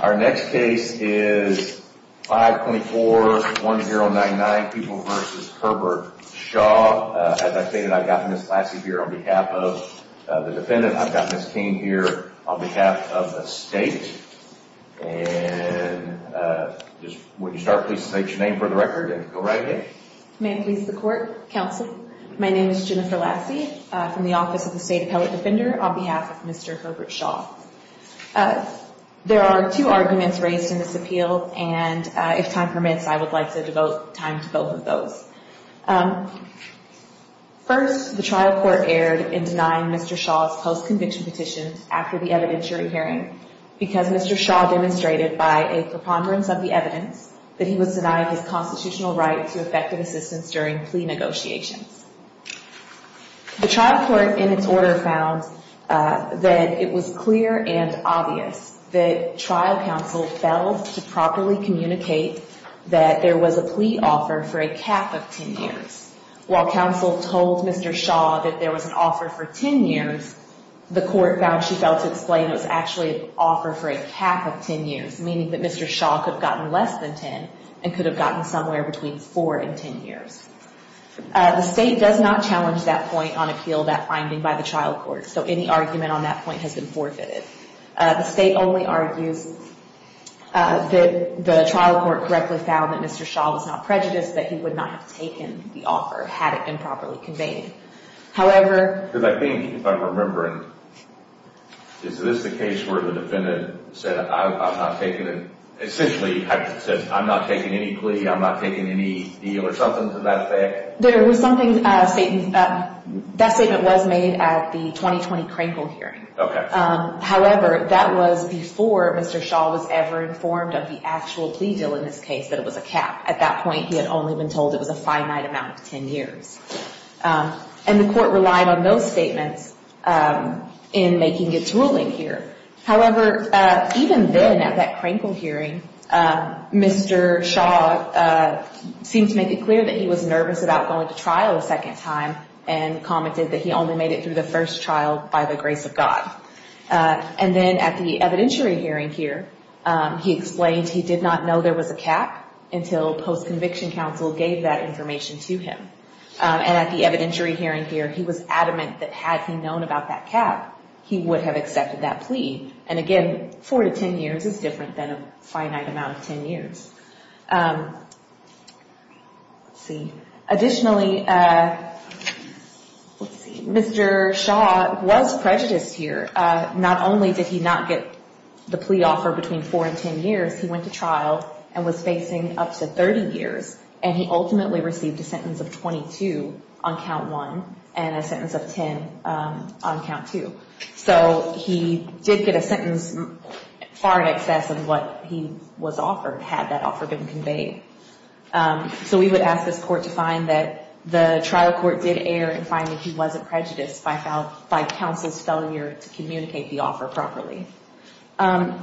Our next case is 524-1099, Pupil v. Herbert Shah. As I stated, I've got Ms. Lassie here on behalf of the defendant. I've got Ms. King here on behalf of the state. And just when you start, please state your name for the record and go right ahead. May I please the court, counsel? My name is Jennifer Lassie from the Office of the State Appellate Defender on behalf of Mr. Herbert Shah. There are two arguments raised in this appeal. And if time permits, I would like to devote time to both of those. First, the trial court erred in denying Mr. Shah's post-conviction petition after the evidentiary hearing because Mr. Shah demonstrated by a preponderance of the evidence that he was denying his constitutional right to effective assistance during plea negotiations. The trial court, in its order, found that it was clear and obvious that trial counsel failed to properly communicate that there was a plea offer for a cap of 10 years. While counsel told Mr. Shah that there was an offer for 10 years, the court found she failed to explain it was actually an offer for a cap of 10 years, meaning that Mr. Shah could have gotten less than 10 and could have gotten somewhere between 4 and 10 years. The state does not challenge that point on appeal, that finding, by the trial court. So any argument on that point has been forfeited. The state only argues that the trial court correctly found that Mr. Shah was not prejudiced, that he would not have taken the offer had it been properly conveyed. However... Because I think, if I'm remembering, is this the case where the defendant said, essentially, I'm not taking any plea, I'm not taking any deal or something to that effect? There was something, that statement was made at the 2020 Crankle hearing. However, that was before Mr. Shah was ever informed of the actual plea deal in this case, that it was a cap. At that point, he had only been told it was a finite amount of 10 years. And the court relied on those statements in making its ruling here. However, even then, at that Crankle hearing, Mr. Shah seemed to make it clear that he was nervous about going to trial a second time and commented that he only made it through the first trial by the grace of God. And then at the evidentiary hearing here, he explained he did not know there was a cap until post-conviction counsel gave that information to him. And at the evidentiary hearing here, he was adamant that had he known about that cap, he would have accepted that plea. And again, 4 to 10 years is different than a finite amount of 10 years. Additionally, Mr. Shah was prejudiced here. Not only did he not get the plea offer between 4 and 10 years, he went to trial and was facing up to 30 years. And he ultimately received a sentence of 22 on count 1 and a sentence of 10 on count 2. So he did get a sentence far in excess of what he was offered, had that offer been conveyed. So we would ask this court to find that the trial court did err in finding he wasn't prejudiced by counsel's failure to communicate the offer properly.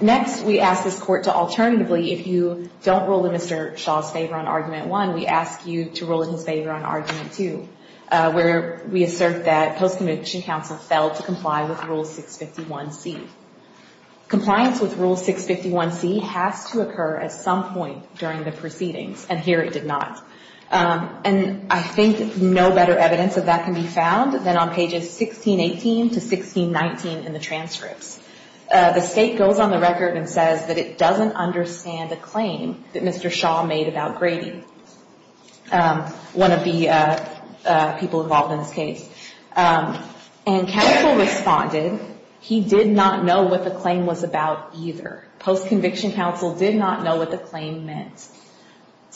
Next, we ask this court to alternatively, if you don't rule in Mr. Shah's favor on Argument 1, we ask you to rule in his favor on Argument 2, where we assert that post-conviction counsel failed to comply with Rule 651C. Compliance with Rule 651C has to occur at some point during the proceedings, and here it did not. And I think no better evidence of that can be found than on pages 1618 to 1619 in the transcripts. The state goes on the record and says that it doesn't understand a claim that Mr. Shah made about Grady, one of the people involved in this case. And counsel responded, he did not know what the claim was about either. Post-conviction counsel did not know what the claim meant.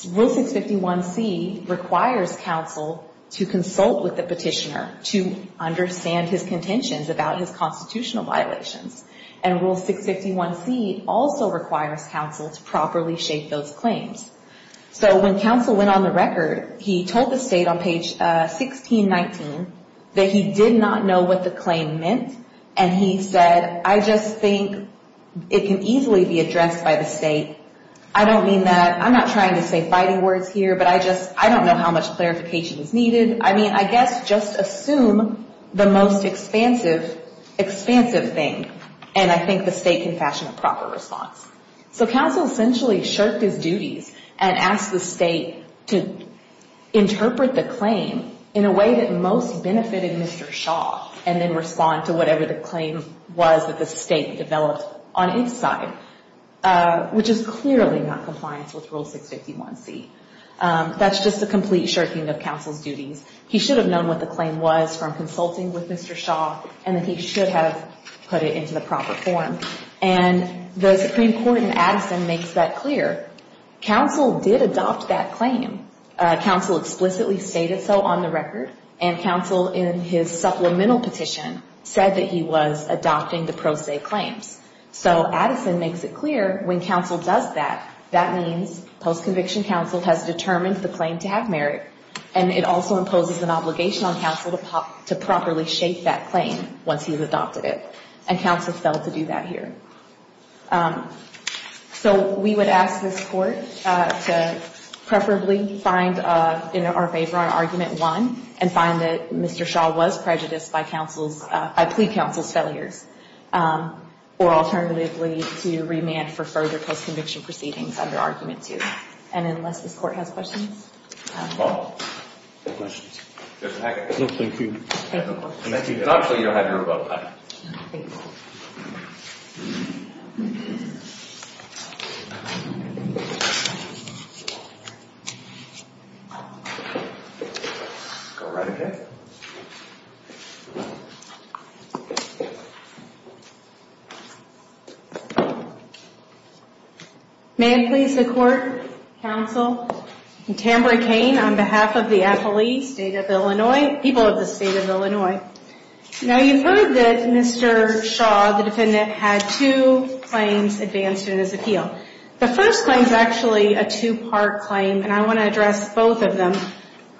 Rule 651C requires counsel to consult with the petitioner to understand his contentions about his constitutional violations. And Rule 651C also requires counsel to properly shape those claims. So when counsel went on the record, he told the state on page 1619 that he did not know what the claim meant, and he said, I just think it can easily be addressed by the state. I don't mean that, I'm not trying to say fighting words here, but I just, I don't know how much clarification is needed. I mean, I guess just assume the most expansive thing, and I think the state can fashion a proper response. So counsel essentially shirked his duties and asked the state to interpret the claim in a way that most benefited Mr. Shah, and then respond to whatever the claim was that the state developed on its side, which is clearly not compliance with Rule 651C. That's just a complete shirking of counsel's duties. He should have known what the claim was from consulting with Mr. Shah, and that he should have put it into the proper form. And the Supreme Court in Addison makes that clear. Counsel did adopt that claim. Counsel explicitly stated so on the record, and counsel in his supplemental petition said that he was adopting the pro se claims. So Addison makes it clear when counsel does that, that means post-conviction counsel has determined the claim to have merit, and it also imposes an obligation on counsel to properly shape that claim once he's adopted it. And counsel failed to do that here. So we would ask this Court to preferably find in our favor on Argument 1, and find that Mr. Shah was prejudiced by plea counsel's failures, or alternatively to remand for further post-conviction proceedings under Argument 2. And unless this Court has questions. No questions. Mr. Hackett. No, thank you. It's not until you have your rebuttal. Go right ahead. May it please the Court, counsel, Tamara Cain, on behalf of the appellee, State of Illinois, people of the State of Illinois. Now you've heard that Mr. Shah, the defendant, had two claims advanced in his appeal. The first claim is actually a two-part claim, and I want to address both of them.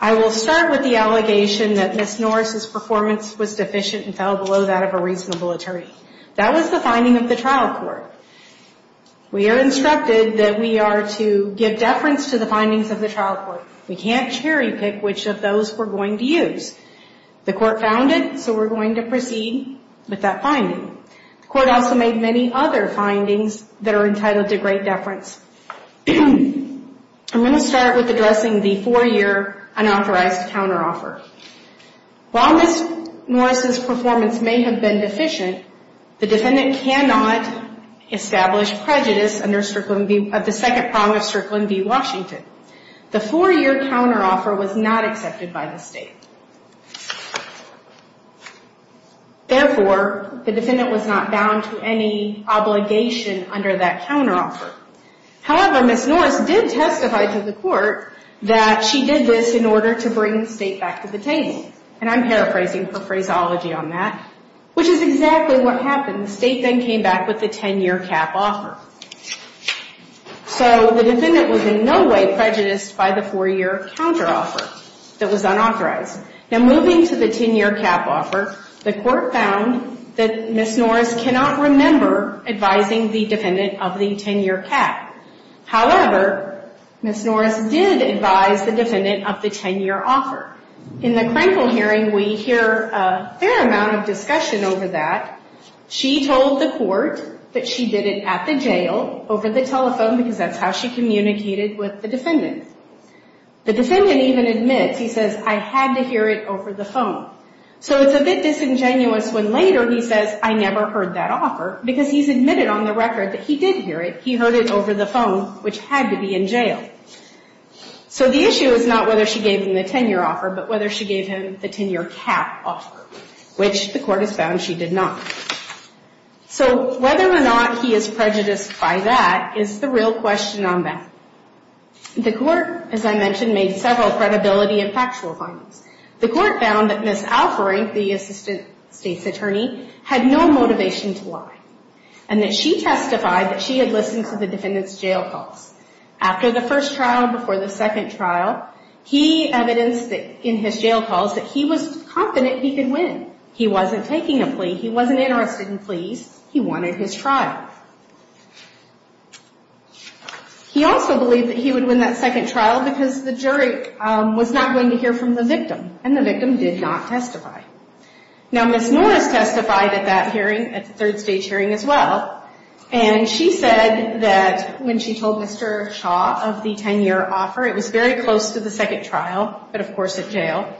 I will start with the allegation that Ms. Norris' performance was deficient and fell below that of a reasonable attorney. That was the finding of the trial court. We are instructed that we are to give deference to the findings of the trial court. We can't cherry-pick which of those we're going to use. The Court found it, so we're going to proceed with that finding. The Court also made many other findings that are entitled to great deference. I'm going to start with addressing the four-year unauthorized counteroffer. While Ms. Norris' performance may have been deficient, the defendant cannot establish prejudice under the second prong of Strickland v. Washington. The four-year counteroffer was not accepted by the State. Therefore, the defendant was not bound to any obligation under that counteroffer. However, Ms. Norris did testify to the Court that she did this in order to bring the State back to the table. And I'm paraphrasing her phraseology on that, which is exactly what happened. The State then came back with the 10-year cap offer. So the defendant was in no way prejudiced by the four-year counteroffer that was unauthorized. Now, moving to the 10-year cap offer, the Court found that Ms. Norris cannot remember advising the defendant of the 10-year cap. However, Ms. Norris did advise the defendant of the 10-year offer. In the Krenkel hearing, we hear a fair amount of discussion over that. She told the Court that she did it at the jail over the telephone because that's how she communicated with the defendant. The defendant even admits, he says, I had to hear it over the phone. So it's a bit disingenuous when later he says, I never heard that offer, because he's admitted on the record that he did hear it. He heard it over the phone, which had to be in jail. So the issue is not whether she gave him the 10-year offer, but whether she gave him the 10-year cap offer, which the Court has found she did not. So whether or not he is prejudiced by that is the real question on that. The Court, as I mentioned, made several credibility and factual findings. The Court found that Ms. Alfering, the Assistant State's Attorney, had no motivation to lie, and that she testified that she had listened to the defendant's jail calls. After the first trial, before the second trial, he evidenced in his jail calls that he was confident he could win. He wasn't taking a plea. He wasn't interested in pleas. He wanted his trial. He also believed that he would win that second trial because the jury was not going to hear from the victim, and the victim did not testify. Now, Ms. Norris testified at that hearing, at the third stage hearing as well, and she said that when she told Mr. Shaw of the 10-year offer, it was very close to the second trial, but of course at jail,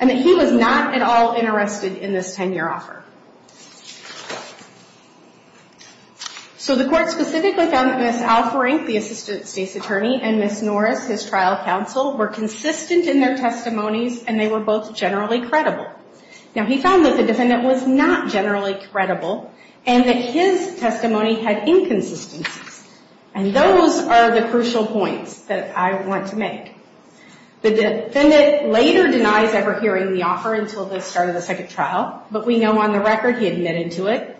and that he was not at all interested in this 10-year offer. So the Court specifically found that Ms. Alfering, the Assistant State's Attorney, and Ms. Norris, his trial counsel, were consistent in their testimonies, and they were both generally credible. Now, he found that the defendant was not generally credible, and that his testimony had inconsistencies, and those are the crucial points that I want to make. The defendant later denies ever hearing the offer until the start of the second trial, but we know on the record he admitted to it.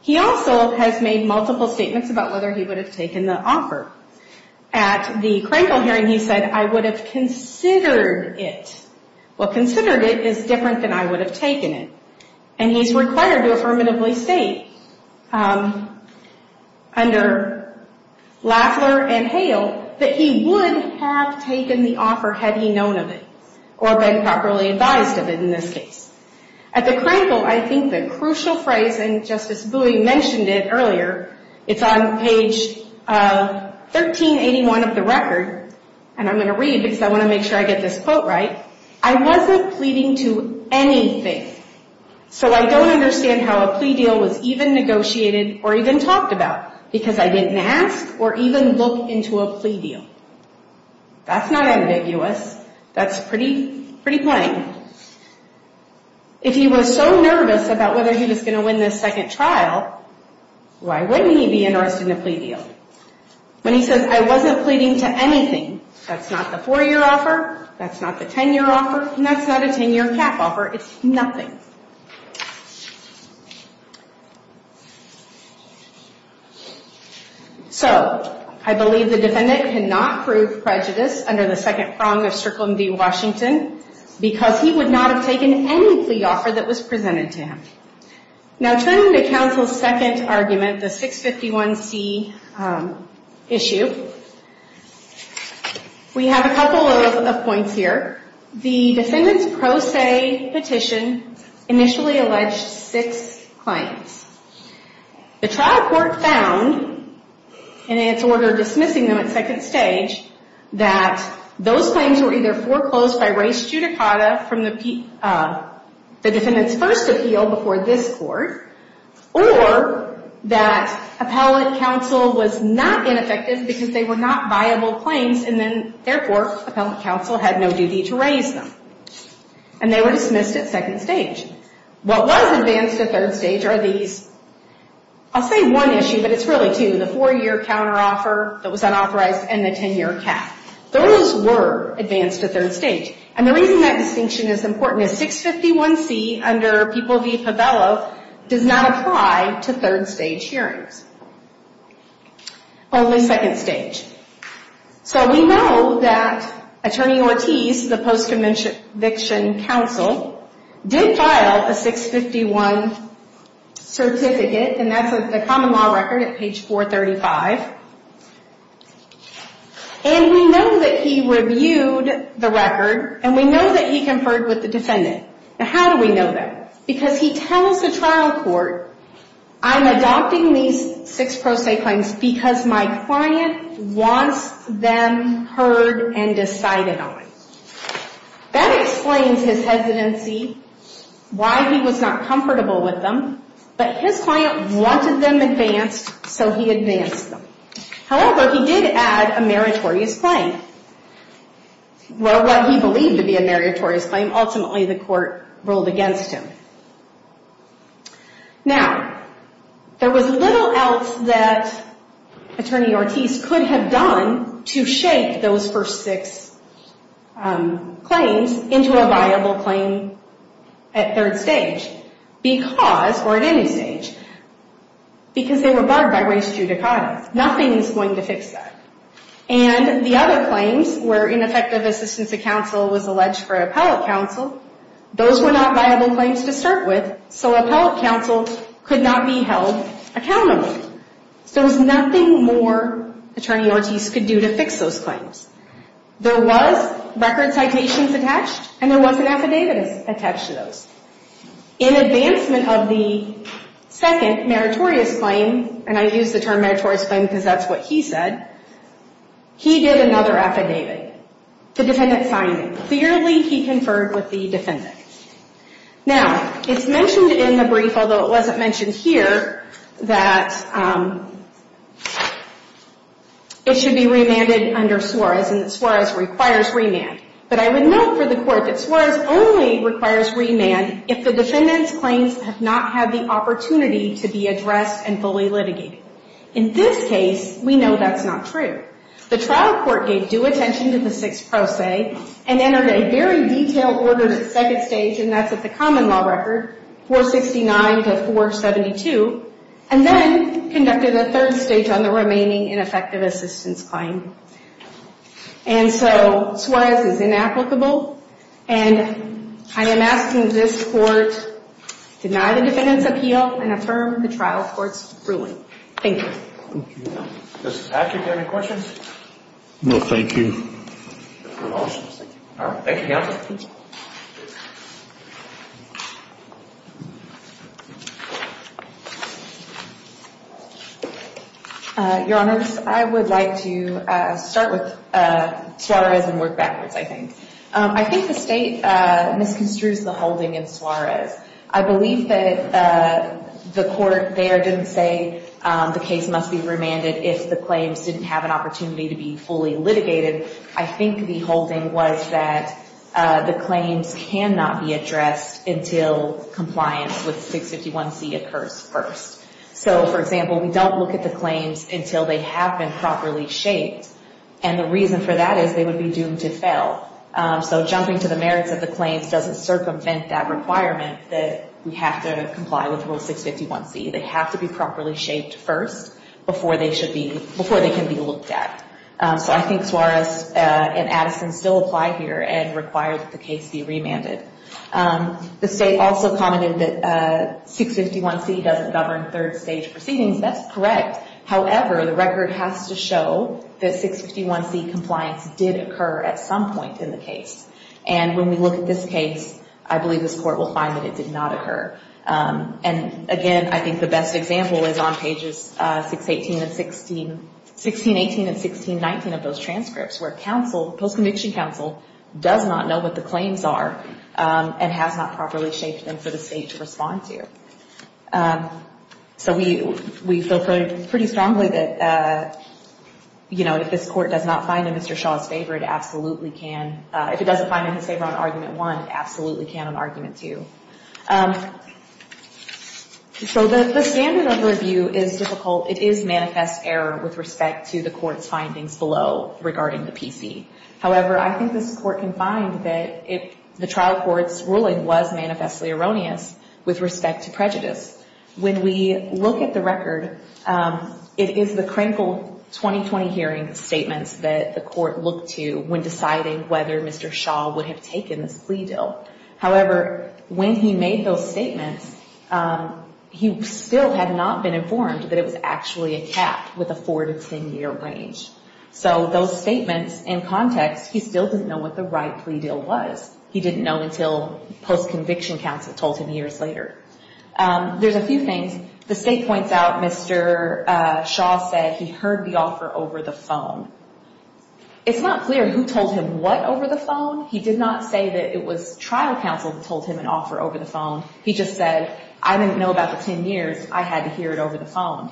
He also has made multiple statements about whether he would have taken the offer. At the Krankel hearing, he said, I would have considered it. Well, considered it is different than I would have taken it, and he's required to affirmatively state under Lafler and Hale that he would have taken the offer had he known of it, or been properly advised of it in this case. At the Krankel, I think the crucial phrase, and Justice Bowie mentioned it earlier, it's on page 1381 of the record, and I'm going to read because I want to make sure I get this quote right. I wasn't pleading to anything, so I don't understand how a plea deal was even negotiated or even talked about, because I didn't ask or even look into a plea deal. That's not ambiguous. That's pretty plain. If he was so nervous about whether he was going to win this second trial, why wouldn't he be interested in a plea deal? When he says, I wasn't pleading to anything, that's not the 4-year offer, that's not the 10-year offer, and that's not a 10-year cap offer. It's nothing. So, I believe the defendant cannot prove prejudice under the second prong of circling v. Washington, because he would not have taken any plea offer that was presented to him. Now, turning to counsel's second argument, the 651C issue, we have a couple of points here. The defendant's pro se petition initially alleged six claims. The trial court found, in its order dismissing them at second stage, that those claims were either foreclosed by race judicata from the defendant's first appeal before this court, or that appellate counsel was not ineffective because they were not viable claims, and then, therefore, appellate counsel had no duty to raise them. And they were dismissed at second stage. What was advanced at third stage are these, I'll say one issue, but it's really two, the 4-year counteroffer that was unauthorized and the 10-year cap. Those were advanced at third stage. And the reason that distinction is important is 651C, under people v. Pavello, does not apply to third stage hearings. Only second stage. So we know that Attorney Ortiz, the post-conviction counsel, did file a 651 certificate, and that's a common law record at page 435. And we know that he reviewed the record, and we know that he conferred with the defendant. Now, how do we know that? Because he tells the trial court, I'm adopting these six pro se claims because my client wants them heard and decided on. That explains his hesitancy, why he was not comfortable with them. But his client wanted them advanced, so he advanced them. However, he did add a meritorious claim. Well, what he believed to be a meritorious claim, ultimately the court ruled against him. Now, there was little else that Attorney Ortiz could have done to shape those first six claims into a viable claim at third stage. Because, or at any stage, because they were barred by res judicata. Nothing is going to fix that. And the other claims were ineffective assistance of counsel was alleged for appellate counsel. Those were not viable claims to start with, so appellate counsel could not be held accountable. So there was nothing more Attorney Ortiz could do to fix those claims. There was record citations attached, and there was an affidavit attached to those. In advancement of the second meritorious claim, and I use the term meritorious claim because that's what he said, he did another affidavit. The defendant signed it. Clearly, he conferred with the defendant. Now, it's mentioned in the brief, although it wasn't mentioned here, that it should be remanded under Suarez and that Suarez requires remand. But I would note for the court that Suarez only requires remand if the defendant's claims have not had the opportunity to be addressed and fully litigated. In this case, we know that's not true. The trial court gave due attention to the sixth pro se and entered a very detailed order to second stage, and that's at the common law record, 469 to 472, and then conducted a third stage on the remaining ineffective assistance claim. And so, Suarez is inapplicable, and I am asking this court to deny the defendant's appeal and affirm the trial court's ruling. Thank you. Thank you. Mrs. Patrick, do you have any questions? No, thank you. All right, thank you, counsel. Thank you. Your Honor, I would like to start with Suarez and work backwards, I think. I think the state misconstrues the holding in Suarez. I believe that the court there didn't say the case must be remanded if the claims didn't have an opportunity to be fully litigated. I think the holding was that the claims were not fully litigated. Claims cannot be addressed until compliance with 651C occurs first. So, for example, we don't look at the claims until they have been properly shaped, and the reason for that is they would be doomed to fail. So jumping to the merits of the claims doesn't circumvent that requirement that we have to comply with Rule 651C. They have to be properly shaped first before they can be looked at. So I think Suarez and Addison still apply here and require that the case be remanded. The state also commented that 651C doesn't govern third stage proceedings. That's correct. However, the record has to show that 651C compliance did occur at some point in the case. And when we look at this case, I believe this court will find that it did not occur. And, again, I think the best example is on pages 618 and 16, 1618 and 1619 of those transcripts, where counsel, post-conviction counsel, does not know what the claims are and has not properly shaped them for the state to respond to. So we feel pretty strongly that, you know, if this court does not find in Mr. Shaw's favor, it absolutely can. If it doesn't find it in his favor on Argument 1, it absolutely can on Argument 2. So the standard overview is difficult. It is manifest error with respect to the court's findings below regarding the PC. However, I think this court can find that the trial court's ruling was manifestly erroneous with respect to prejudice. When we look at the record, it is the critical 2020 hearing statements that the court looked to when deciding whether Mr. Shaw would have taken this plea deal. However, when he made those statements, he still had not been informed that it was actually a cap with a four- to ten-year range. So those statements and context, he still didn't know what the right plea deal was. He didn't know until post-conviction counsel told him years later. There's a few things. The state points out Mr. Shaw said he heard the offer over the phone. It's not clear who told him what over the phone. He did not say that it was trial counsel that told him an offer over the phone. He just said, I didn't know about the ten years. I had to hear it over the phone.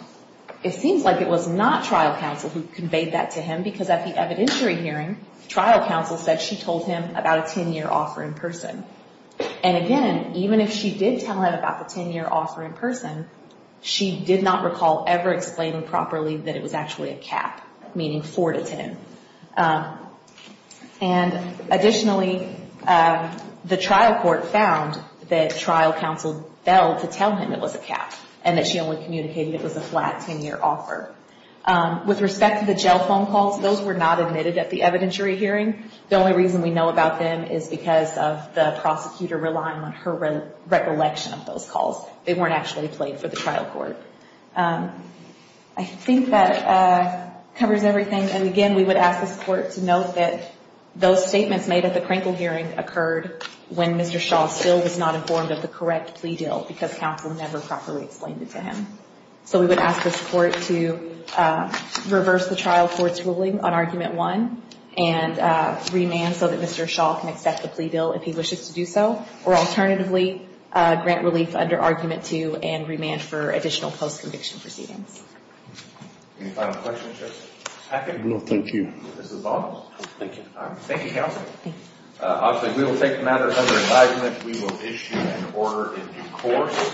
It seems like it was not trial counsel who conveyed that to him because at the evidentiary hearing, trial counsel said she told him about a ten-year offer in person. And again, even if she did tell him about the ten-year offer in person, she did not recall ever explaining properly that it was actually a cap, meaning four to ten. And additionally, the trial court found that trial counsel failed to tell him it was a cap and that she only communicated it was a flat ten-year offer. With respect to the jail phone calls, those were not admitted at the evidentiary hearing. The only reason we know about them is because of the prosecutor relying on her recollection of those calls. They weren't actually played for the trial court. I think that covers everything. And again, we would ask this Court to note that those statements made at the Krinkle hearing occurred when Mr. Shaw still was not informed of the correct plea deal because counsel never properly explained it to him. So we would ask this Court to reverse the trial court's ruling on Argument 1 and remand so that Mr. Shaw can accept the plea deal if he wishes to do so, or alternatively, grant relief under Argument 2 and remand for additional post-conviction proceedings. Any final questions, Justice Hackett? No, thank you. This is Bob. Thank you. Thank you, counsel. Obviously, we will take matters under assignment. We will issue an order in due course.